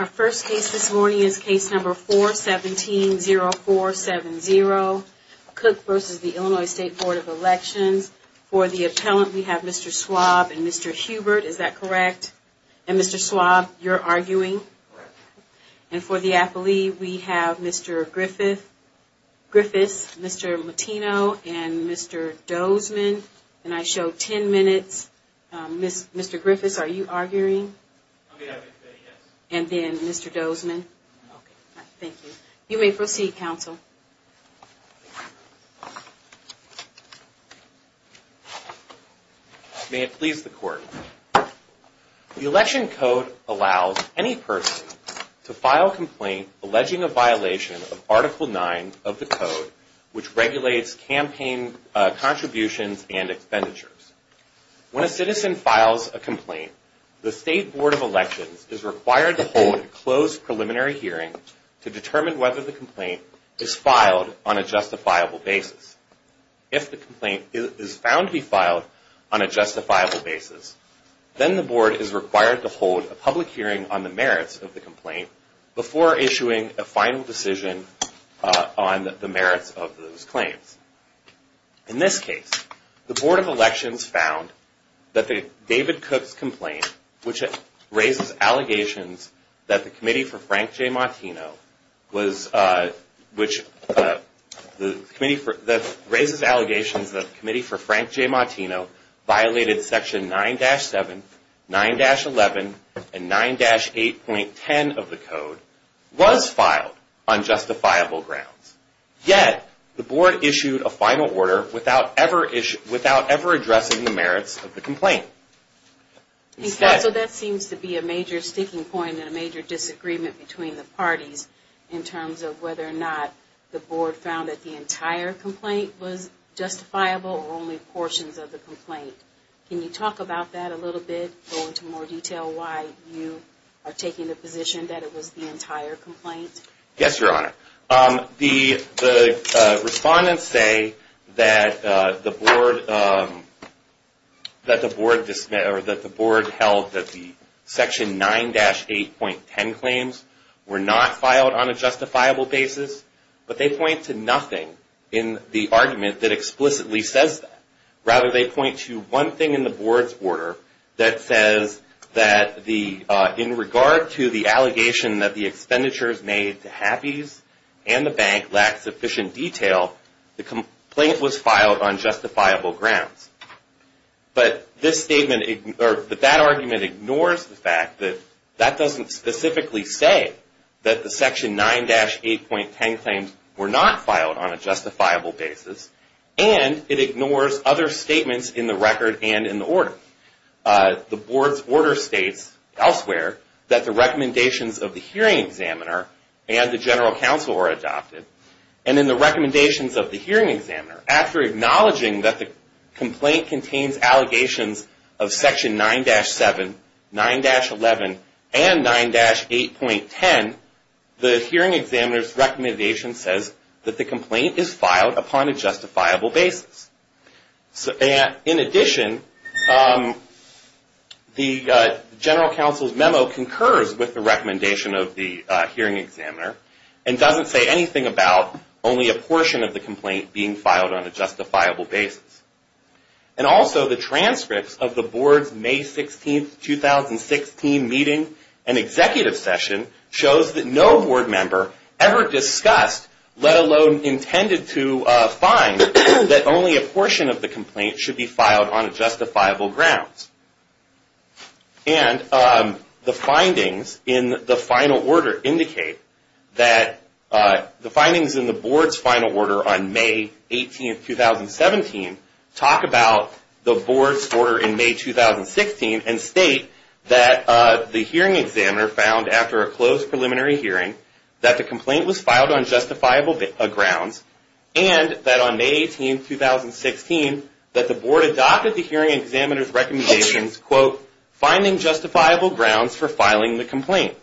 Our first case this morning is case number 417-0470, Cooke v. Illinois State Board of Elections. For the appellant, we have Mr. Schwab and Mr. Hubert, is that correct? And Mr. Schwab, you're arguing? Correct. And for the appellee, we have Mr. Griffith, Mr. Latino, and Mr. Dozman, and I show 10 minutes. Mr. Griffith, are you arguing? I'm going to have to say yes. And then Mr. Dozman. Okay. Thank you. You may proceed, counsel. May it please the Court. The Election Code allows any person to file a complaint alleging a violation of Article 9 of the Code, which regulates campaign contributions and expenditures. When a citizen files a complaint, the State Board of Elections is required to hold a closed preliminary hearing to determine whether the complaint is filed on a justifiable basis. If the complaint is found to be filed on a justifiable basis, then the Board is required to hold a public hearing on the merits of the complaint before issuing a final decision on the merits of those claims. In this case, the Board of Elections found that David Cooke's complaint, which raises allegations that the Committee for Frank J. Martino violated Section 9-7, 9-11, and 9-8.10 of the Code, was filed on justifiable grounds. Yet, the Board issued a final order without ever addressing the merits of the complaint. Counsel, that seems to be a major sticking point and a major disagreement between the parties in terms of whether or not the Board found that the entire complaint was justifiable or only portions of the complaint. Can you talk about that a little bit, go into more detail, why you are taking the position that it was the entire complaint? Yes, Your Honor. The respondents say that the Board held that the Section 9-8.10 claims were not filed on a justifiable basis, but they point to nothing in the argument that explicitly says that. Rather, they point to one thing in the Board's order that says that in regard to the allegation that the expenditures made to HAPIs and the bank lack sufficient detail, the complaint was filed on justifiable grounds. But that argument ignores the fact that that doesn't specifically say that the Section 9-8.10 claims were not filed on a justifiable basis, and it ignores other statements in the record and in the order. The Board's order states elsewhere that the recommendations of the Hearing Examiner and the General Counsel were adopted, and in the recommendations of the Hearing Examiner, after acknowledging that the complaint contains allegations of Section 9-7, 9-11, and 9-8.10, the Hearing Examiner's recommendation says that the complaint is filed upon a justifiable basis. In addition, the General Counsel's memo concurs with the recommendation of the Hearing Examiner and doesn't say anything about only a portion of the complaint being filed on a justifiable basis. And also, the transcripts of the Board's May 16, 2016 meeting and executive session shows that no Board member ever discussed, let alone intended to, a fine that only a portion of the complaint should be filed on justifiable grounds. And the findings in the final order indicate that the findings in the Board's final order on May 18, 2017 talk about the Board's order in May 2016 and state that the Hearing Examiner found, after a closed preliminary hearing, that the complaint was filed on justifiable grounds and that on May 18, 2016, that the Board adopted the Hearing Examiner's recommendations, quote, finding justifiable grounds for filing the complaint.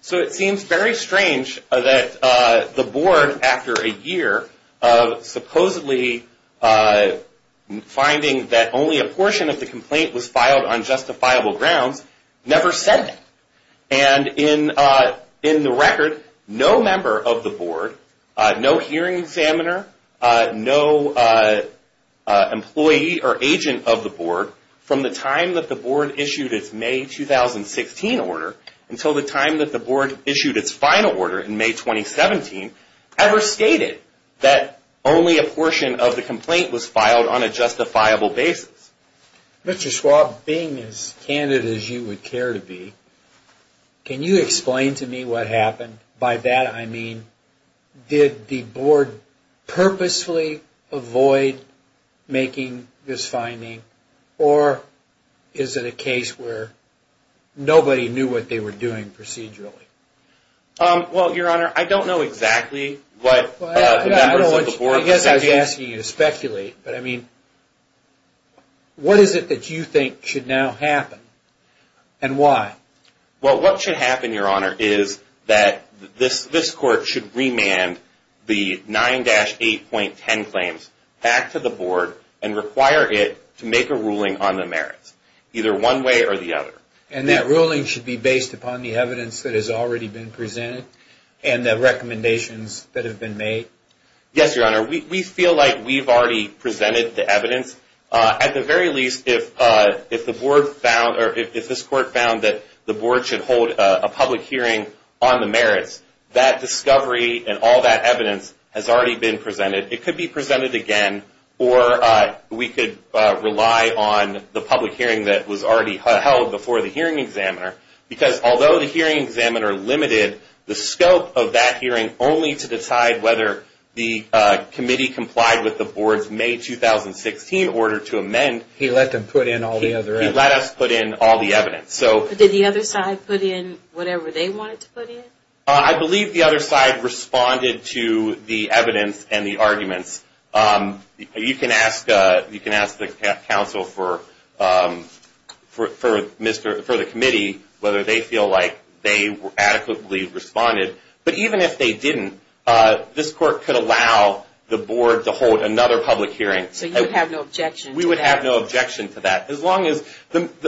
So it seems very strange that the Board, after a year of supposedly finding that only a portion of the complaint was filed on justifiable grounds, never said it. And in the record, no member of the Board, no Hearing Examiner, no employee or agent of the Board, from the time that the Board issued its May 2016 order until the time that the Board issued its final order in May 2017, ever stated that only a portion of the complaint was filed on a justifiable basis. Mr. Schwab, being as candid as you would care to be, can you explain to me what happened? By that I mean, did the Board purposefully avoid making this finding or is it a case where nobody knew what they were doing procedurally? Well, Your Honor, I don't know exactly what the members of the Board... What is it that you think should now happen and why? Well, what should happen, Your Honor, is that this Court should remand the 9-8.10 claims back to the Board and require it to make a ruling on the merits, either one way or the other. And that ruling should be based upon the evidence that has already been presented and the recommendations that have been made? Yes, Your Honor. We feel like we've already presented the evidence. At the very least, if the Board found... or if this Court found that the Board should hold a public hearing on the merits, that discovery and all that evidence has already been presented. It could be presented again or we could rely on the public hearing that was already held before the hearing examiner. Because although the hearing examiner limited the scope of that hearing only to decide whether the committee complied with the Board's May 2016 order to amend... He let them put in all the evidence. He let us put in all the evidence. Did the other side put in whatever they wanted to put in? I believe the other side responded to the evidence and the arguments. You can ask the counsel for the committee whether they feel like they adequately responded. But even if they didn't, this Court could allow the Board to hold another public hearing. So you would have no objection to that? We would have no objection to that.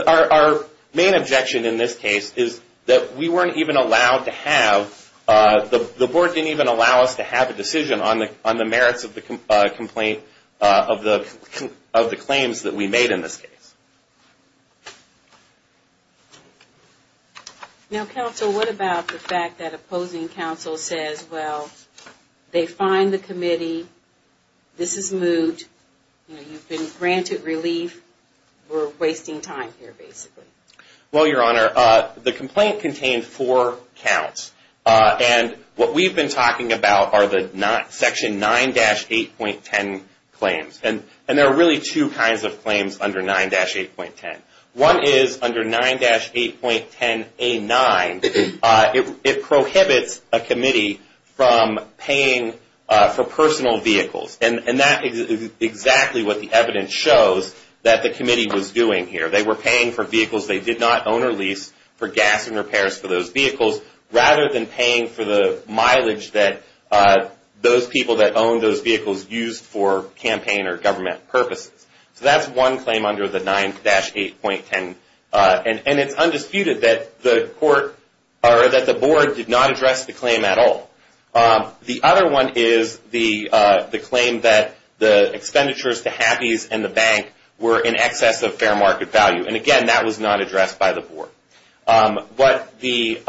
Our main objection in this case is that we weren't even allowed to have... the Board didn't even allow us to have a decision on the merits of the claims that we made in this case. Now, counsel, what about the fact that opposing counsel says, well, they find the committee, this is moved, you've been granted relief, we're wasting time here, basically? Well, Your Honor, the complaint contained four counts. And what we've been talking about are the Section 9-8.10 claims. And there are really two kinds of claims under 9-8.10. One is under 9-8.10A9, it prohibits a committee from paying for personal vehicles. And that is exactly what the evidence shows that the committee was doing here. They were paying for vehicles they did not own or lease for gas and repairs for those vehicles, rather than paying for the mileage that those people that owned those vehicles used for campaign or government purposes. So that's one claim under the 9-8.10. And it's undisputed that the Board did not address the claim at all. The other one is the claim that the expenditures to HAPIs and the bank were in excess of fair market value. And, again, that was not addressed by the Board. What the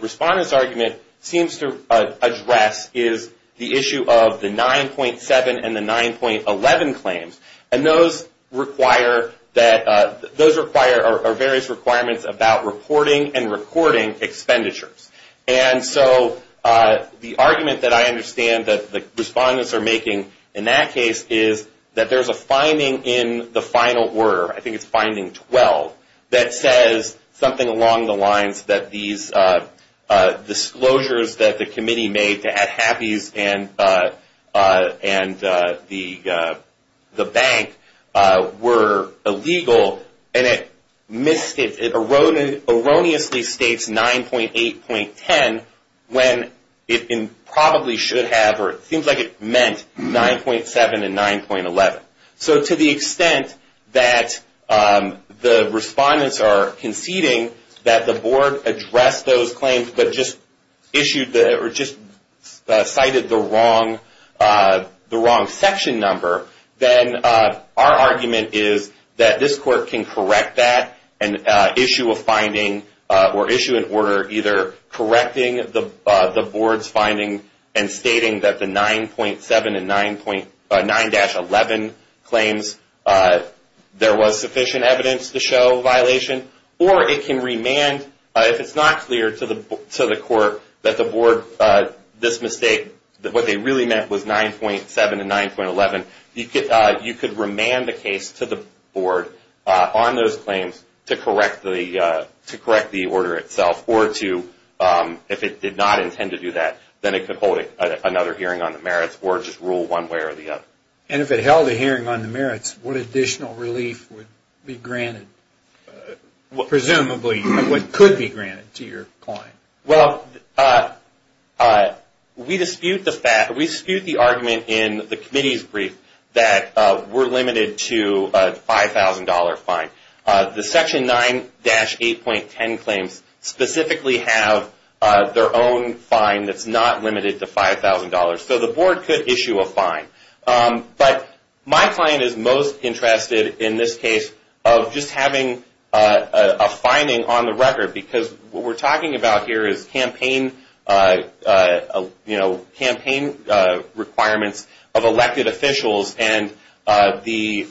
respondent's argument seems to address is the issue of the 9.7 and the 9.11 claims. And those are various requirements about reporting and recording expenditures. And so the argument that I understand that the respondents are making in that case is that there's a finding in the final order, I think it's finding 12, that says something along the lines that these disclosures that the committee made to HAPIs and the bank were illegal. And it erroneously states 9.8.10 when it probably should have or it seems like it meant 9.7 and 9.11. So to the extent that the respondents are conceding that the Board addressed those claims but just cited the wrong section number, then our argument is that this Court can correct that and issue a finding or issue an order either correcting the Board's finding and stating that the 9.7 and 9-11 claims, there was sufficient evidence to show violation, or it can remand, if it's not clear to the Court that the Board, this mistake, that what they really meant was 9.7 and 9.11, you could remand the case to the Board on those claims to correct the order itself or to, if it did not intend to do that, then it could hold another hearing on the merits or just rule one way or the other. And if it held a hearing on the merits, what additional relief would be granted, presumably what could be granted to your client? Well, we dispute the argument in the committee's brief that we're limited to a $5,000 fine. The Section 9-8.10 claims specifically have their own fine that's not limited to $5,000. So the Board could issue a fine. But my client is most interested in this case of just having a finding on the record, because what we're talking about here is campaign requirements of elected officials, and the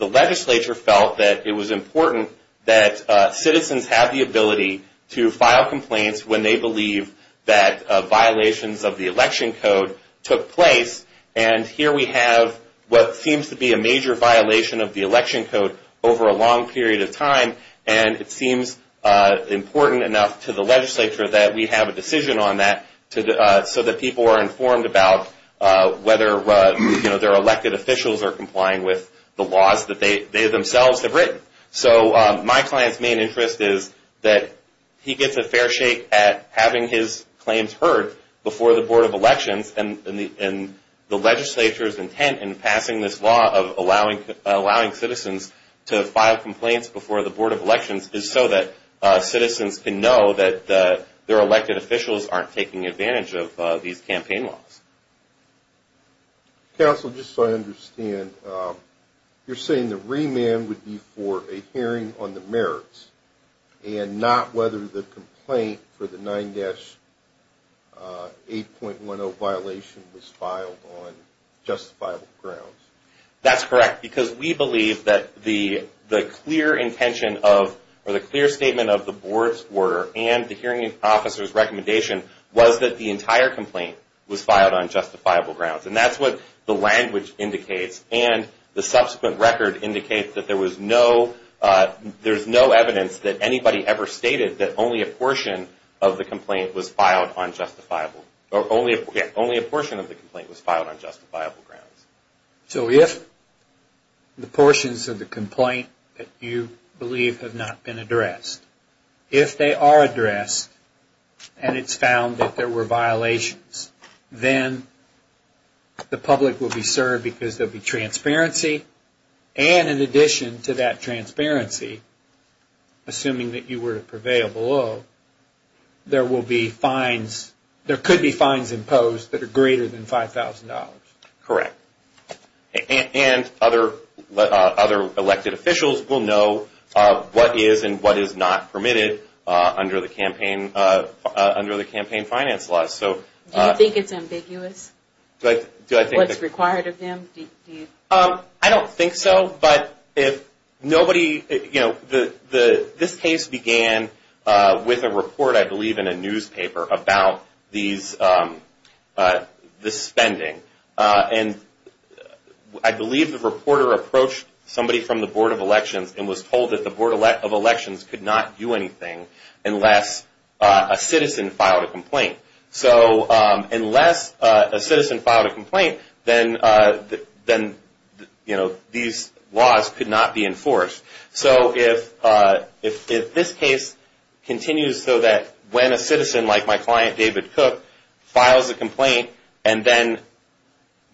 legislature felt that it was important that citizens have the ability to file complaints when they believe that violations of the election code took place. And here we have what seems to be a major violation of the election code over a long period of time, and it seems important enough to the legislature that we have a decision on that so that people are informed about whether their elected officials are complying with the laws that they themselves have written. So my client's main interest is that he gets a fair shake at having his claims heard before the Board of Elections, and the legislature's intent in passing this law of allowing citizens to file complaints before the Board of Elections is so that citizens can know that their elected officials aren't taking advantage of these campaign laws. Counsel, just so I understand, you're saying the remand would be for a hearing on the merits and not whether the complaint for the 9-8.10 violation was filed on justifiable grounds. That's correct, because we believe that the clear intention of, or the clear statement of the Board's order and the hearing officer's recommendation was that the entire complaint was filed on justifiable grounds. And that's what the language indicates, and the subsequent record indicates that there's no evidence that anybody ever stated that only a portion of the complaint was filed on justifiable grounds. So if the portions of the complaint that you believe have not been addressed, if they are addressed and it's found that there were violations, then the public will be served because there will be transparency. And in addition to that transparency, assuming that you were to prevail below, there could be fines imposed that are greater than $5,000. Correct. And other elected officials will know what is and what is not permitted under the campaign finance laws. Do you think it's ambiguous, what's required of them? I don't think so, but this case began with a report, I believe, in a newspaper about the spending. And I believe the reporter approached somebody from the Board of Elections and was told that the Board of Elections could not do anything unless a citizen filed a complaint. So unless a citizen filed a complaint, then these laws could not be enforced. So if this case continues so that when a citizen, like my client David Cook, files a complaint and then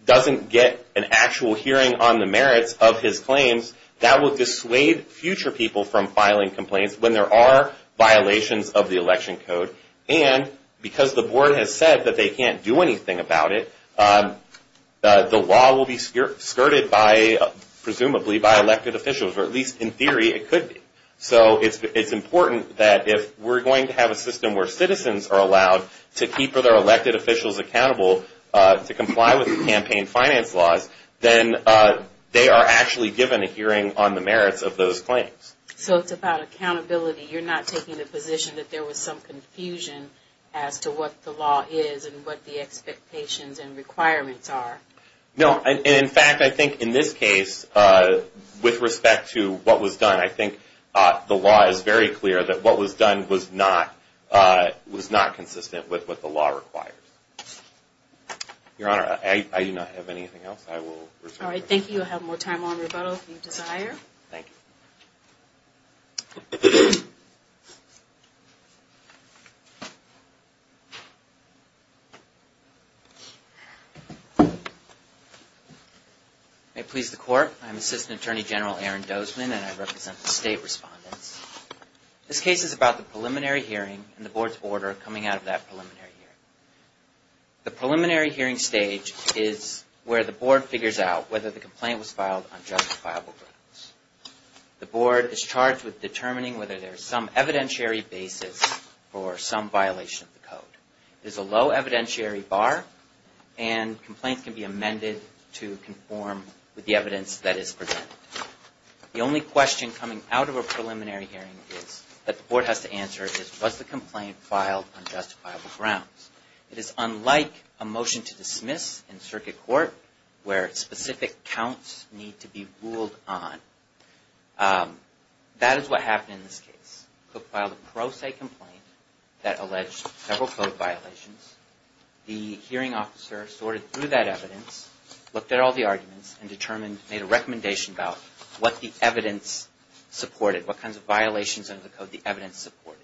doesn't get an actual hearing on the merits of his claims, that will dissuade future people from filing complaints when there are violations of the election code. And because the board has said that they can't do anything about it, the law will be skirted by, presumably, by elected officials, or at least in theory it could be. So it's important that if we're going to have a system where citizens are allowed to keep their elected officials accountable to comply with campaign finance laws, then they are actually given a hearing on the merits of those claims. So it's about accountability. You're not taking the position that there was some confusion as to what the law is and what the expectations and requirements are? No. In fact, I think in this case, with respect to what was done, I think the law is very clear that what was done was not consistent with what the law requires. Your Honor, I do not have anything else I will refer to. All right, thank you. You'll have more time on rebuttal if you desire. Thank you. May it please the Court, I'm Assistant Attorney General Aaron Dozman and I represent the State Respondents. This case is about the preliminary hearing and the Board's order coming out of that preliminary hearing. The preliminary hearing stage is where the Board figures out whether the complaint was filed on justifiable grounds. The Board is charged with determining whether there is some evidentiary basis for some violation of the code. There's a low evidentiary bar and complaints can be amended to conform with the evidence that is presented. The only question coming out of a preliminary hearing that the Board has to answer is, was the complaint filed on justifiable grounds? It is unlike a motion to dismiss in circuit court where specific counts need to be ruled on. That is what happened in this case. Cook filed a pro se complaint that alleged several code violations. The hearing officer sorted through that evidence, looked at all the arguments, and made a recommendation about what the evidence supported, what kinds of violations under the code the evidence supported.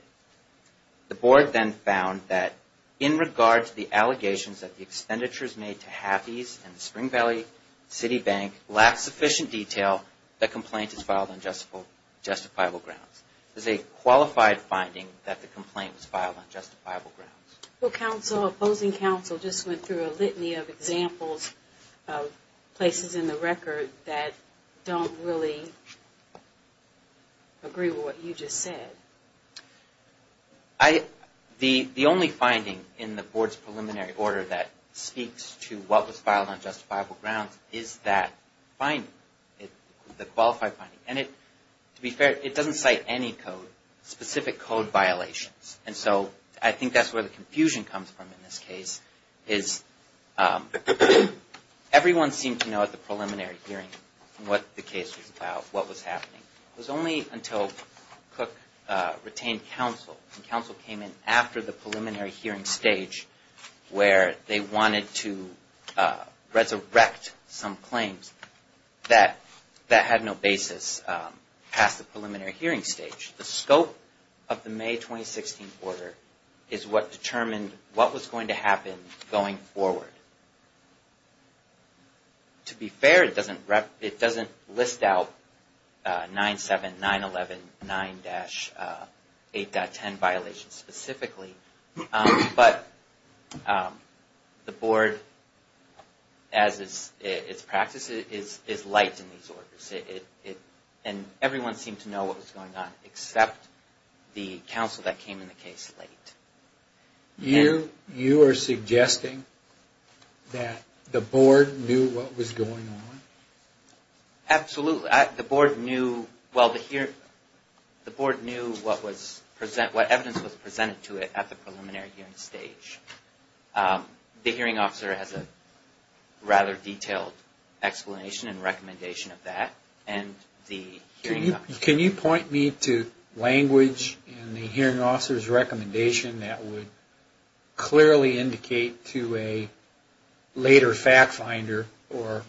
The Board then found that in regard to the allegations that the expenditures made to Hathi's and the Spring Valley City Bank lacked sufficient detail, the complaint is filed on justifiable grounds. It is a qualified finding that the complaint was filed on justifiable grounds. Well, opposing counsel just went through a litany of examples of places in the record that don't really agree with what you just said. The only finding in the Board's preliminary order that speaks to what was filed on justifiable grounds is that finding, the qualified finding. And to be fair, it doesn't cite any specific code violations. And so I think that's where the confusion comes from in this case. Everyone seemed to know at the preliminary hearing what the case was about, what was happening. It was only until Cook retained counsel and counsel came in after the preliminary hearing stage where they wanted to resurrect some claims that had no basis past the preliminary hearing stage. The scope of the May 2016 order is what determined what was going to happen going forward. To be fair, it doesn't list out 9-7, 9-11, 9-8.10 violations specifically. But the Board, as is its practice, is light in these orders. And everyone seemed to know what was going on except the counsel that came in the case late. You are suggesting that the Board knew what was going on? Absolutely. The Board knew what evidence was presented to it at the preliminary hearing stage. The hearing officer has a rather detailed explanation and recommendation of that. Can you point me to language in the hearing officer's recommendation that would clearly indicate to a later fact finder or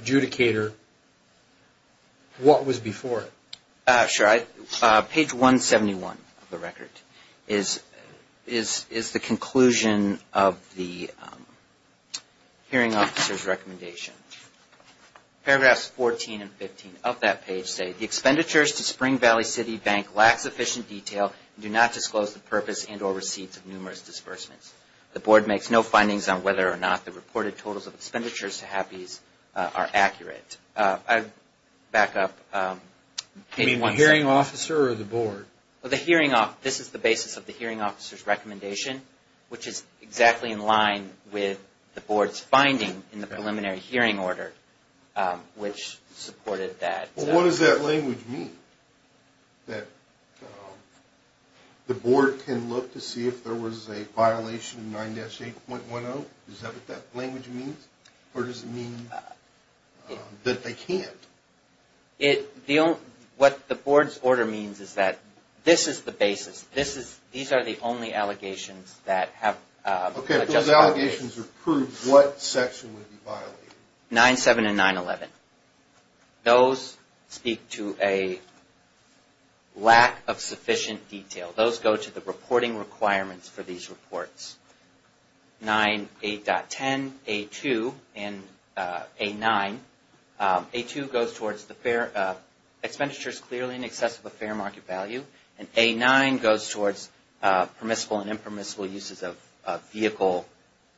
adjudicator what was before it? Sure. Page 171 of the record is the conclusion of the hearing officer's recommendation. Paragraphs 14 and 15 of that page say, the expenditures to Spring Valley City Bank lack sufficient detail and do not disclose the purpose and or receipts of numerous disbursements. The Board makes no findings on whether or not the reported totals of expenditures to HAPIs are accurate. I'd back up. You mean the hearing officer or the Board? This is the basis of the hearing officer's recommendation, which is exactly in line with the Board's finding in the preliminary hearing order, which supported that. What does that language mean? That the Board can look to see if there was a violation of 9-8.10? Is that what that language means? Or does it mean that they can't? What the Board's order means is that this is the basis. These are the only allegations that have adjusted. If those allegations are proved, what section would be violated? 9-7 and 9-11. Those speak to a lack of sufficient detail. Those go to the reporting requirements for these reports. 9-8.10, A-2, and A-9. A-2 goes towards expenditures clearly in excess of a fair market value. And A-9 goes towards permissible and impermissible uses of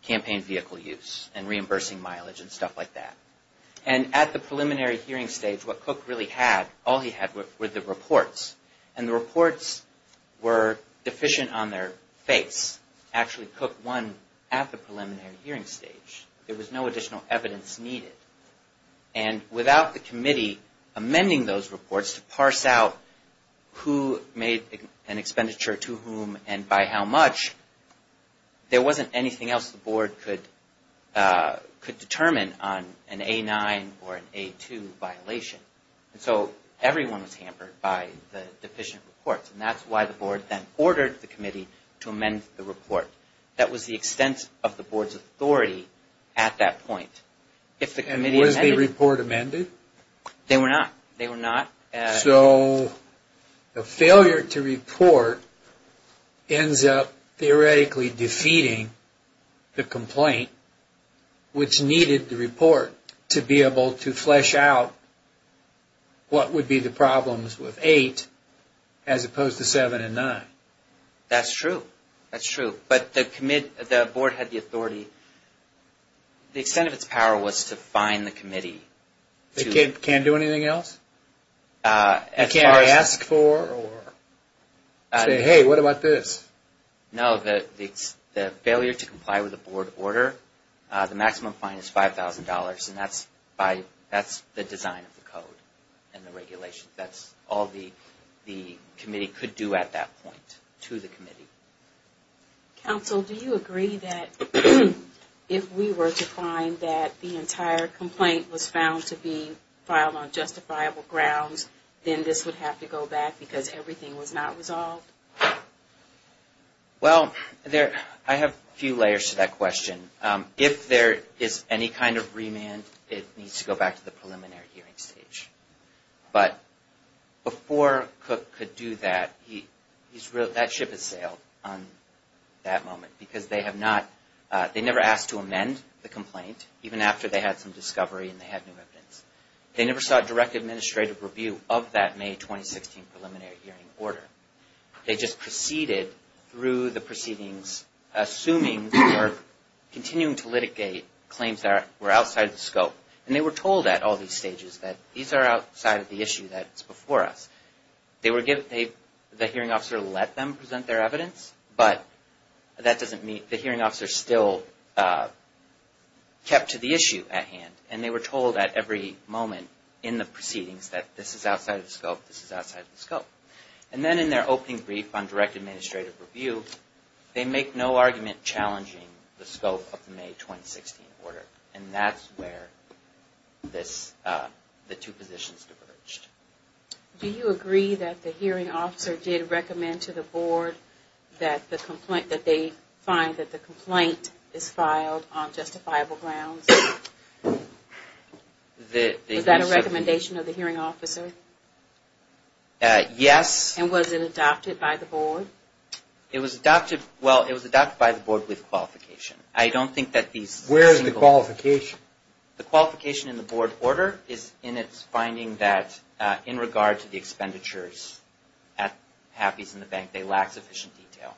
campaign vehicle use and reimbursing mileage and stuff like that. And at the preliminary hearing stage, what Cook really had, all he had, were the reports. And the reports were deficient on their face. Actually, Cook won at the preliminary hearing stage. There was no additional evidence needed. And without the committee amending those reports to parse out who made an expenditure to whom and by how much, there wasn't anything else the Board could determine on an A-9 or an A-2 violation. So everyone was hampered by the deficient reports. And that's why the Board then ordered the committee to amend the report. That was the extent of the Board's authority at that point. And was the report amended? They were not. So the failure to report ends up theoretically defeating the complaint, which needed the report to be able to flesh out what would be the problems with A-8 as opposed to A-7 and A-9. That's true. That's true. But the Board had the authority. The extent of its power was to fine the committee. It can't do anything else? It can't ask for or say, hey, what about this? No, the failure to comply with the Board order, the maximum fine is $5,000. And that's the design of the code and the regulation. That's all the committee could do at that point to the committee. Counsel, do you agree that if we were to find that the entire complaint was found to be filed on justifiable grounds, then this would have to go back because everything was not resolved? Well, I have a few layers to that question. If there is any kind of remand, it needs to go back to the preliminary hearing stage. But before Cook could do that, that ship has sailed on that moment because they never asked to amend the complaint, even after they had some discovery and they had new evidence. They never sought direct administrative review of that May 2016 preliminary hearing order. They just proceeded through the proceedings, assuming they were continuing to litigate claims that were outside the scope. And they were told at all these stages that these are outside of the issue that's before us. The hearing officer let them present their evidence, but the hearing officer still kept to the issue at hand. And they were told at every moment in the proceedings that this is outside of the scope, this is outside of the scope. And then in their opening brief on direct administrative review, they make no argument challenging the scope of the May 2016 order. And that's where the two positions diverged. Do you agree that the hearing officer did recommend to the board that they find that the complaint is filed on justifiable grounds? Is that a recommendation of the hearing officer? Yes. And was it adopted by the board? It was adopted by the board with qualification. Where is the qualification? The qualification in the board order is in its finding that in regard to the expenditures at Happy's and the bank, they lack sufficient detail.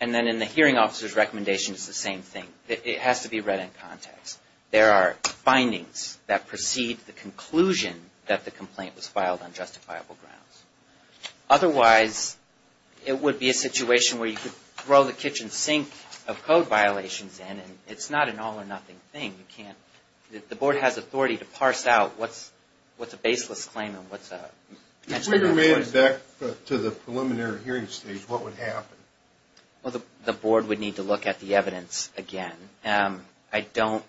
And then in the hearing officer's recommendation, it's the same thing. It has to be read in context. There are findings that precede the conclusion that the complaint was filed on justifiable grounds. Otherwise, it would be a situation where you could throw the kitchen sink of code violations in and it's not an all or nothing thing. You can't. The board has authority to parse out what's a baseless claim and what's a... If we go back to the preliminary hearing stage, what would happen? Well, the board would need to look at the evidence again. I don't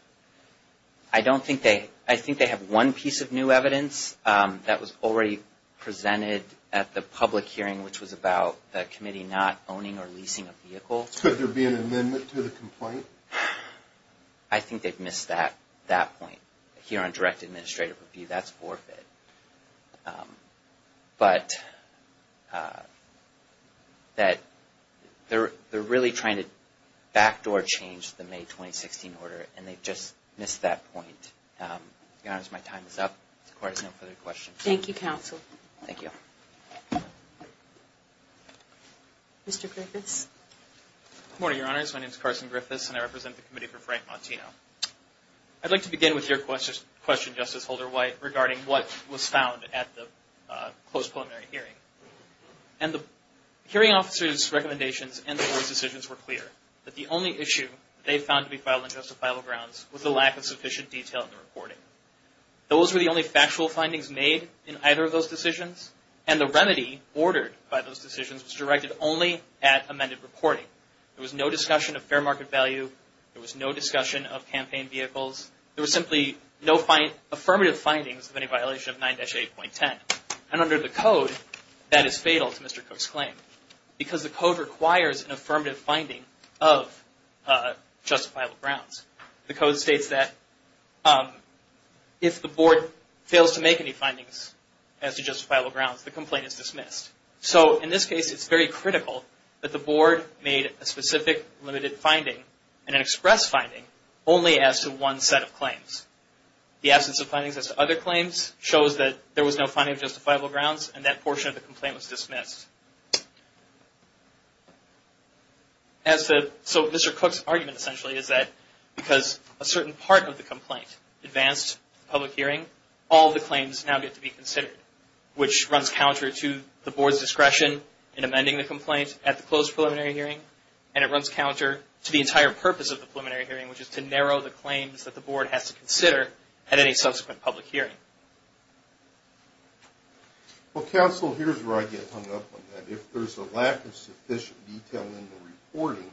think they... I think they have one piece of new evidence that was already presented at the public hearing, which was about the committee not owning or leasing a vehicle. Could there be an amendment to the complaint? I think they've missed that point here on direct administrative review. That's forfeit. But they're really trying to backdoor change the May 2016 order and they've just missed that point. Your Honors, my time is up. The court has no further questions. Thank you, counsel. Thank you. Mr. Griffiths. Good morning, Your Honors. My name is Carson Griffiths and I represent the committee for Frank Montino. I'd like to begin with your question, Justice Holder-White, regarding what was found at the close preliminary hearing. And the hearing officer's recommendations and the board's decisions were clear, that the only issue they found to be vital and justifiable grounds was the lack of sufficient detail in the reporting. Those were the only factual findings made in either of those decisions, and the remedy ordered by those decisions was directed only at amended reporting. There was no discussion of fair market value. There was no discussion of campaign vehicles. There was simply no affirmative findings of any violation of 9-8.10. And under the code, that is fatal to Mr. Cook's claim because the code requires an affirmative finding of justifiable grounds. The code states that if the board fails to make any findings as to justifiable grounds, the complaint is dismissed. So in this case, it's very critical that the board made a specific limited finding and an express finding only as to one set of claims. The absence of findings as to other claims shows that there was no finding of justifiable grounds and that portion of the complaint was dismissed. So Mr. Cook's argument essentially is that because a certain part of the complaint advanced to the public hearing, all the claims now get to be considered, which runs counter to the board's discretion in amending the complaint at the closed preliminary hearing, and it runs counter to the entire purpose of the preliminary hearing, which is to narrow the claims that the board has to consider at any subsequent public hearing. Well, counsel, here's where I get hung up on that. If there's a lack of sufficient detail in the reporting,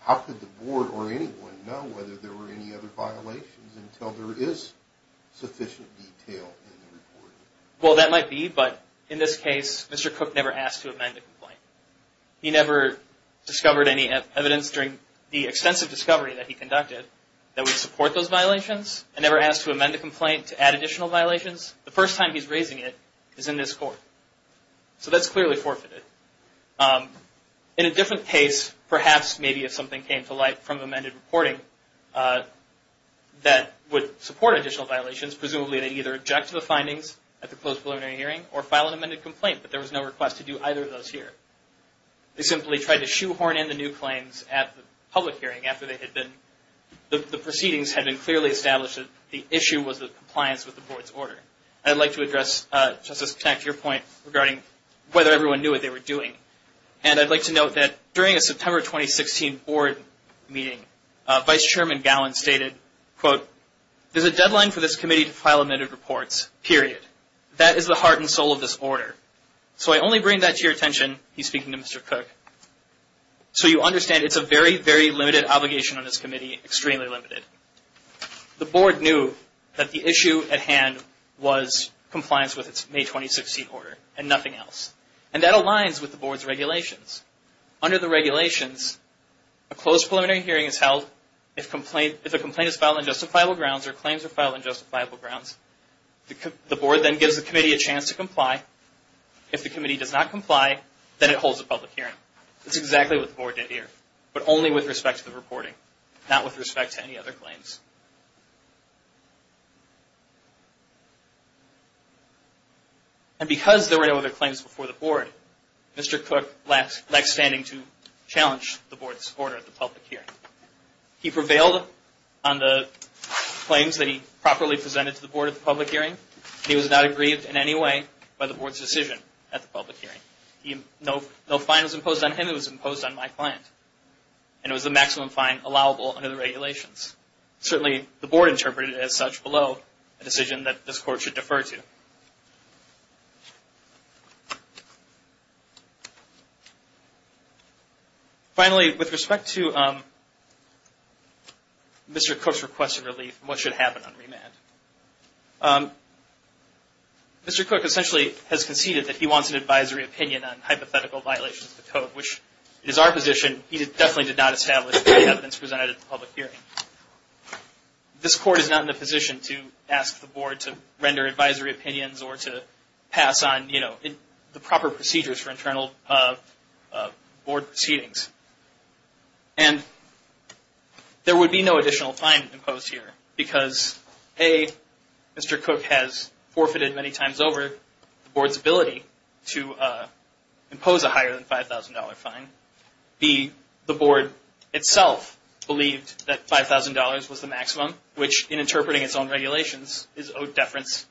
how could the board or anyone know whether there were any other violations until there is sufficient detail in the reporting? Well, that might be, but in this case, Mr. Cook never asked to amend the complaint. He never discovered any evidence during the extensive discovery that he conducted that would support those violations and never asked to amend the complaint to add additional violations. The first time he's raising it is in this court. So that's clearly forfeited. In a different case, perhaps maybe if something came to light from amended reporting that would support additional violations, presumably they either object to the findings at the closed preliminary hearing or file an amended complaint, but there was no request to do either of those here. They simply tried to shoehorn in the new claims at the public hearing after the proceedings had been clearly established that the issue was the compliance with the board's order. I'd like to address, Justice Connacht, your point regarding whether everyone knew what they were doing. And I'd like to note that during a September 2016 board meeting, Vice Chairman Gallin stated, quote, there's a deadline for this committee to file amended reports, period. That is the heart and soul of this order. So I only bring that to your attention, he's speaking to Mr. Cook, so you understand it's a very, very limited obligation on this committee, extremely limited. The board knew that the issue at hand was compliance with its May 2016 order and nothing else. And that aligns with the board's regulations. Under the regulations, a closed preliminary hearing is held if a complaint is filed on justifiable grounds or claims are filed on justifiable grounds. The board then gives the committee a chance to comply. If the committee does not comply, then it holds a public hearing. That's exactly what the board did here, but only with respect to the reporting, not with respect to any other claims. And because there were no other claims before the board, Mr. Cook lacked standing to challenge the board's order at the public hearing. He prevailed on the claims that he properly presented to the board at the public hearing. He was not aggrieved in any way by the board's decision at the public hearing. No fine was imposed on him, it was imposed on my client. And it was the maximum fine allowable under the regulations. Certainly, the board interpreted it as such below a decision that this court should defer to. Finally, with respect to Mr. Cook's request of relief and what should happen on remand, Mr. Cook essentially has conceded that he wants an advisory opinion on hypothetical violations of the code, which is our position. He definitely did not establish the evidence presented at the public hearing. This court is not in a position to ask the board to render advisory opinions or to pass on the proper procedures for internal board proceedings. And there would be no additional fine imposed here, because A, Mr. Cook has forfeited many times over the board's ability to impose a higher than $5,000 fine. B, the board itself believed that $5,000 was the maximum, which in interpreting its own regulations is owed deference.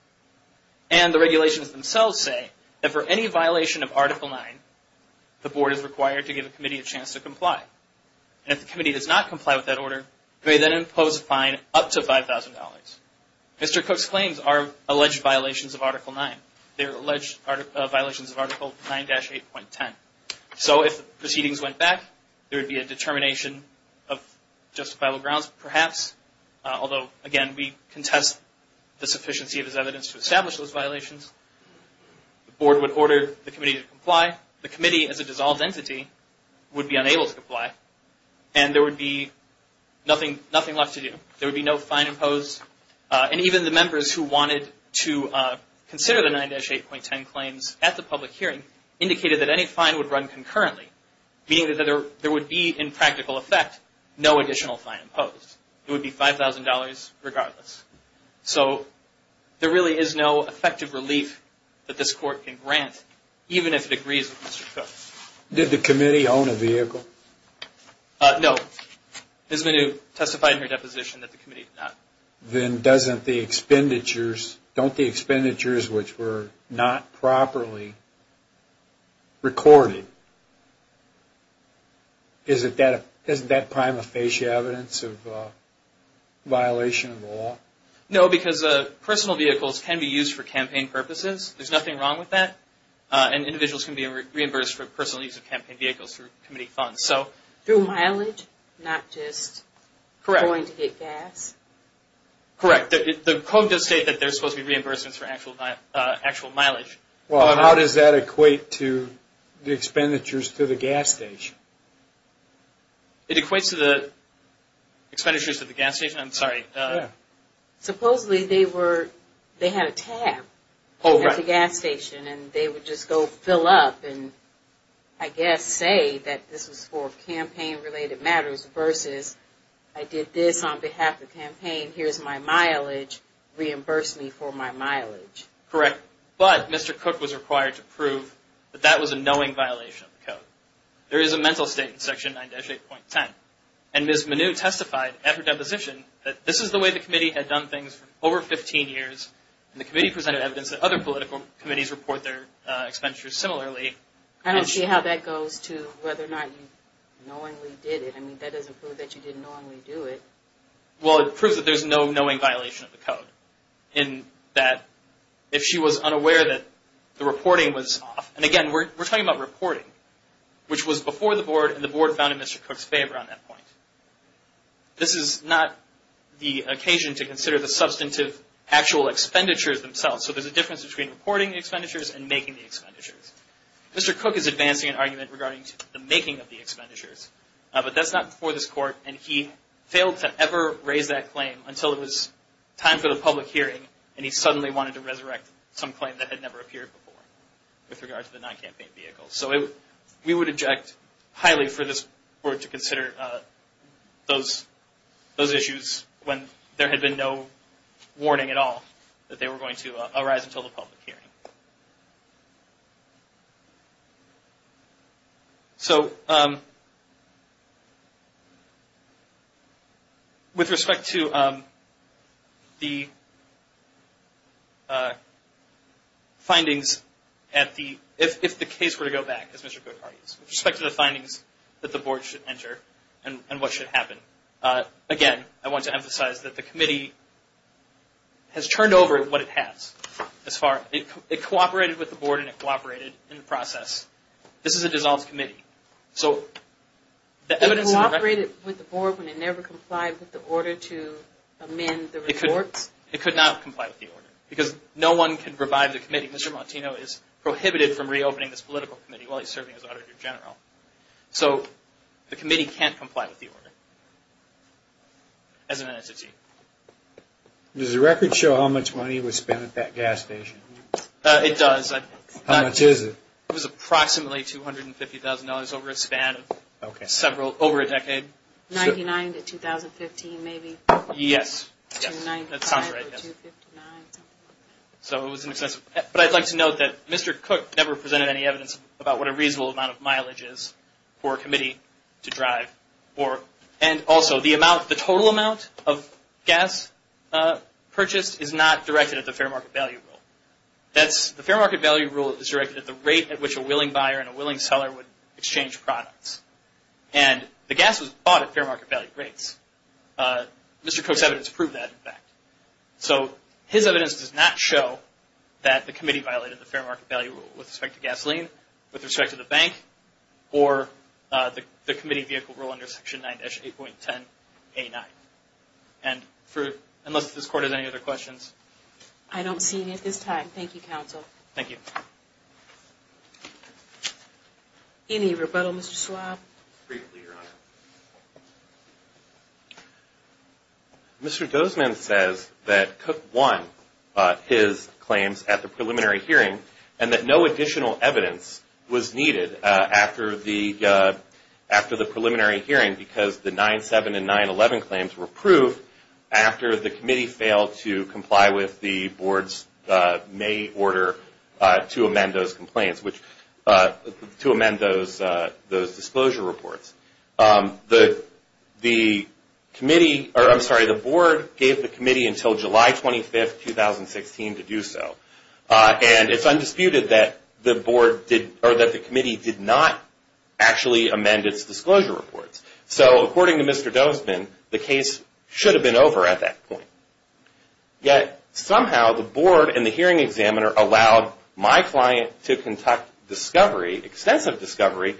And the regulations themselves say that for any violation of Article 9, the board is required to give the committee a chance to comply. And if the committee does not comply with that order, they then impose a fine up to $5,000. Mr. Cook's claims are alleged violations of Article 9. They are alleged violations of Article 9-8.10. So if the proceedings went back, there would be a determination of justifiable grounds, perhaps. Although, again, we contest the sufficiency of his evidence to establish those violations. The board would order the committee to comply. The committee, as a dissolved entity, would be unable to comply. And there would be nothing left to do. There would be no fine imposed. And even the members who wanted to consider the 9-8.10 claims at the public hearing indicated that any fine would run concurrently, meaning that there would be, in practical effect, no additional fine imposed. It would be $5,000 regardless. So there really is no effective relief that this court can grant, even if it agrees with Mr. Cook. Did the committee own a vehicle? No. Ms. Manoux testified in her deposition that the committee did not. Then don't the expenditures, which were not properly recorded, isn't that prima facie evidence of violation of the law? No, because personal vehicles can be used for campaign purposes. There's nothing wrong with that. And individuals can be reimbursed for personal use of campaign vehicles through committee funds. Through mileage, not just going to get gas? Correct. The code does state that there's supposed to be reimbursements for actual mileage. Well, how does that equate to the expenditures to the gas station? It equates to the expenditures to the gas station? I'm sorry. Supposedly, they had a tab at the gas station, and they would just go fill up and, I guess, say that this was for campaign-related matters, versus I did this on behalf of the campaign, here's my mileage, reimburse me for my mileage. Correct. But Mr. Cook was required to prove that that was a knowing violation of the code. There is a mental state in Section 9-8.10, and Ms. Manoux testified at her deposition that this is the way the committee had done things for over 15 years, and the committee presented evidence that other political committees report their expenditures similarly. I don't see how that goes to whether or not you knowingly did it. I mean, that doesn't prove that you didn't knowingly do it. Well, it proves that there's no knowing violation of the code, in that if she was unaware that the reporting was off. And, again, we're talking about reporting, which was before the Board, and the Board found in Mr. Cook's favor on that point. This is not the occasion to consider the substantive actual expenditures themselves. So there's a difference between reporting the expenditures and making the expenditures. Mr. Cook is advancing an argument regarding the making of the expenditures, but that's not before this Court, and he failed to ever raise that claim until it was time for the public hearing, and he suddenly wanted to resurrect some claim that had never appeared before with regard to the non-campaign vehicle. So we would object highly for this Board to consider those issues when there had been no warning at all that they were going to arise until the public hearing. So, with respect to the findings, if the case were to go back, as Mr. Cook argues, with respect to the findings that the Board should enter and what should happen, again, I want to emphasize that the Committee has turned over what it has. It cooperated with the Board and it cooperated in the process. This is a dissolved Committee. So the evidence in the record... It cooperated with the Board when it never complied with the order to amend the reports? It could not comply with the order because no one can revive the Committee. Mr. Montino is prohibited from reopening this political Committee while he's serving as Auditor General. So the Committee can't comply with the order as an entity. Does the record show how much money was spent at that gas station? It does. How much is it? It was approximately $250,000 over a span of several...over a decade. $99,000 to $2,015,000 maybe? $295,000 to $259,000, something like that. So it was an excessive... But I'd like to note that Mr. Cook never presented any evidence about what a reasonable amount of mileage is for a Committee to drive. And also, the total amount of gas purchased is not directed at the fair market value rule. The fair market value rule is directed at the rate at which a willing buyer and a willing seller would exchange products. And the gas was bought at fair market value rates. Mr. Cook's evidence proved that, in fact. So his evidence does not show that the Committee violated the fair market value rule with respect to gasoline, with respect to the bank, or the Committee vehicle rule under Section 9-8.10A9. And for...unless this Court has any other questions... I don't see any at this time. Thank you, Counsel. Thank you. Any rebuttal, Mr. Schwab? Briefly, Your Honor. Mr. Dozman says that Cook won his claims at the preliminary hearing and that no additional evidence was needed after the preliminary hearing because the 9-7 and 9-11 claims were approved after the Committee failed to comply with the Board's May order to amend those complaints, which...to amend those disclosure reports. The Committee...or, I'm sorry. The Board gave the Committee until July 25, 2016 to do so. And it's undisputed that the Board did... or that the Committee did not actually amend its disclosure reports. So, according to Mr. Dozman, the case should have been over at that point. Yet, somehow, the Board and the hearing examiner allowed my client to conduct discovery, extensive discovery,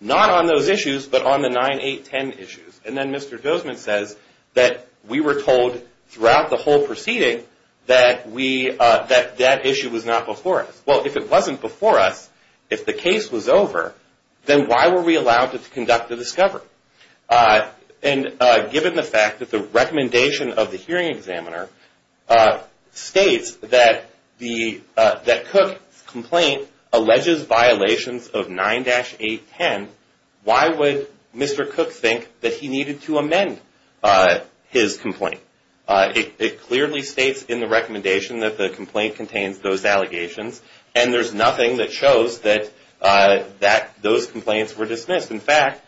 not on those issues, but on the 9-8-10 issues. And then Mr. Dozman says that we were told throughout the whole proceeding that we...that that issue was not before us. Well, if it wasn't before us, if the case was over, then why were we allowed to conduct the discovery? And given the fact that the recommendation of the hearing examiner states that the...that Cook's complaint alleges violations of 9-8-10, why would Mr. Cook think that he needed to amend his complaint? It clearly states in the recommendation that the complaint contains those allegations. And there's nothing that shows that those complaints were dismissed. In fact,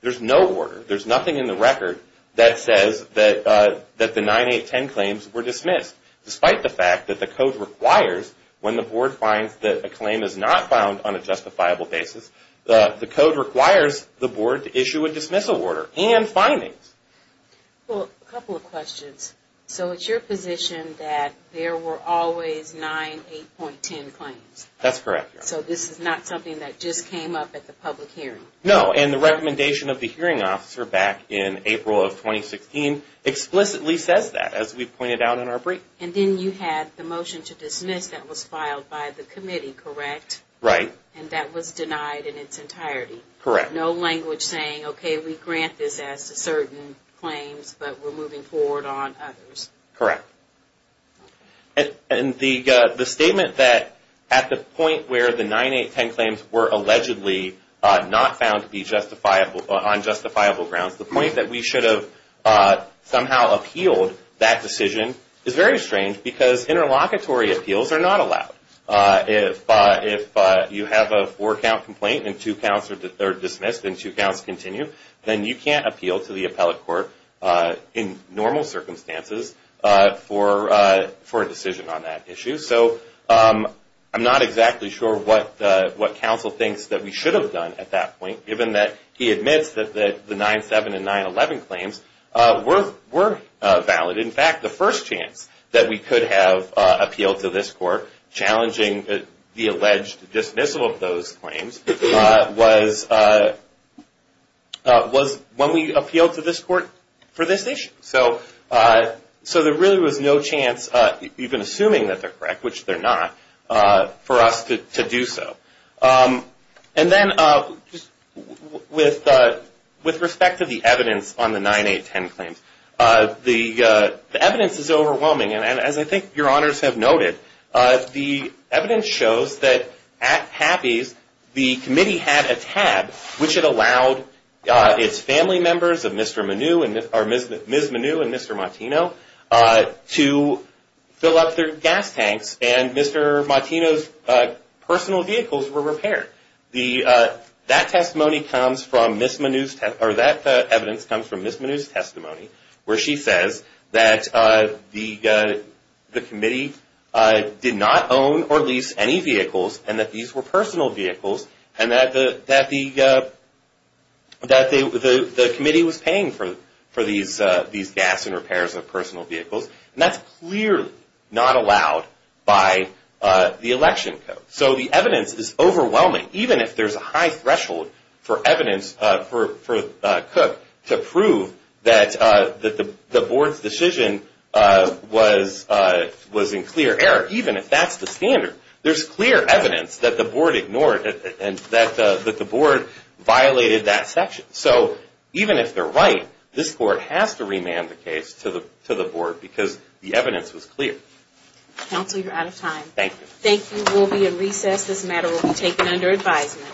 there's no order. There's nothing in the record that says that the 9-8-10 claims were dismissed. Despite the fact that the Code requires, when the Board finds that a claim is not found on a justifiable basis, the Code requires the Board to issue a dismissal order and findings. Well, a couple of questions. So it's your position that there were always 9-8-10 claims? That's correct, Your Honor. So this is not something that just came up at the public hearing? No, and the recommendation of the hearing officer back in April of 2016 explicitly says that, as we've pointed out in our brief. And then you had the motion to dismiss that was filed by the committee, correct? Right. And that was denied in its entirety? Correct. No language saying, okay, we grant this as to certain claims, but we're moving forward on others? Correct. And the statement that at the point where the 9-8-10 claims were allegedly not found on justifiable grounds, the point that we should have somehow appealed that decision is very strange because interlocutory appeals are not allowed. If you have a four-count complaint and two counts are dismissed and two counts continue, then you can't appeal to the appellate court in normal circumstances for a decision on that issue. So I'm not exactly sure what counsel thinks that we should have done at that point, given that he admits that the 9-7 and 9-11 claims were valid. In fact, the first chance that we could have appealed to this court, challenging the alleged dismissal of those claims, was when we appealed to this court for this issue. So there really was no chance, even assuming that they're correct, which they're not, for us to do so. And then with respect to the evidence on the 9-8-10 claims, the evidence is overwhelming, and as I think your honors have noted, the evidence shows that at Happy's, the committee had a tab which had allowed its family members, Ms. Manoux and Mr. Martino, to fill up their gas tanks, and Mr. Martino's personal vehicles were repaired. That evidence comes from Ms. Manoux's testimony, where she says that the committee did not own or lease any vehicles, and that these were personal vehicles, and that the committee was paying for these gas and repairs of personal vehicles. And that's clearly not allowed by the election code. So the evidence is overwhelming, even if there's a high threshold for evidence for Cook, to prove that the board's decision was in clear error, even if that's the standard. There's clear evidence that the board ignored, and that the board violated that section. So even if they're right, this court has to remand the case to the board, because the evidence was clear. Counsel, you're out of time. Thank you. Thank you. We'll be in recess. This matter will be taken under advisement.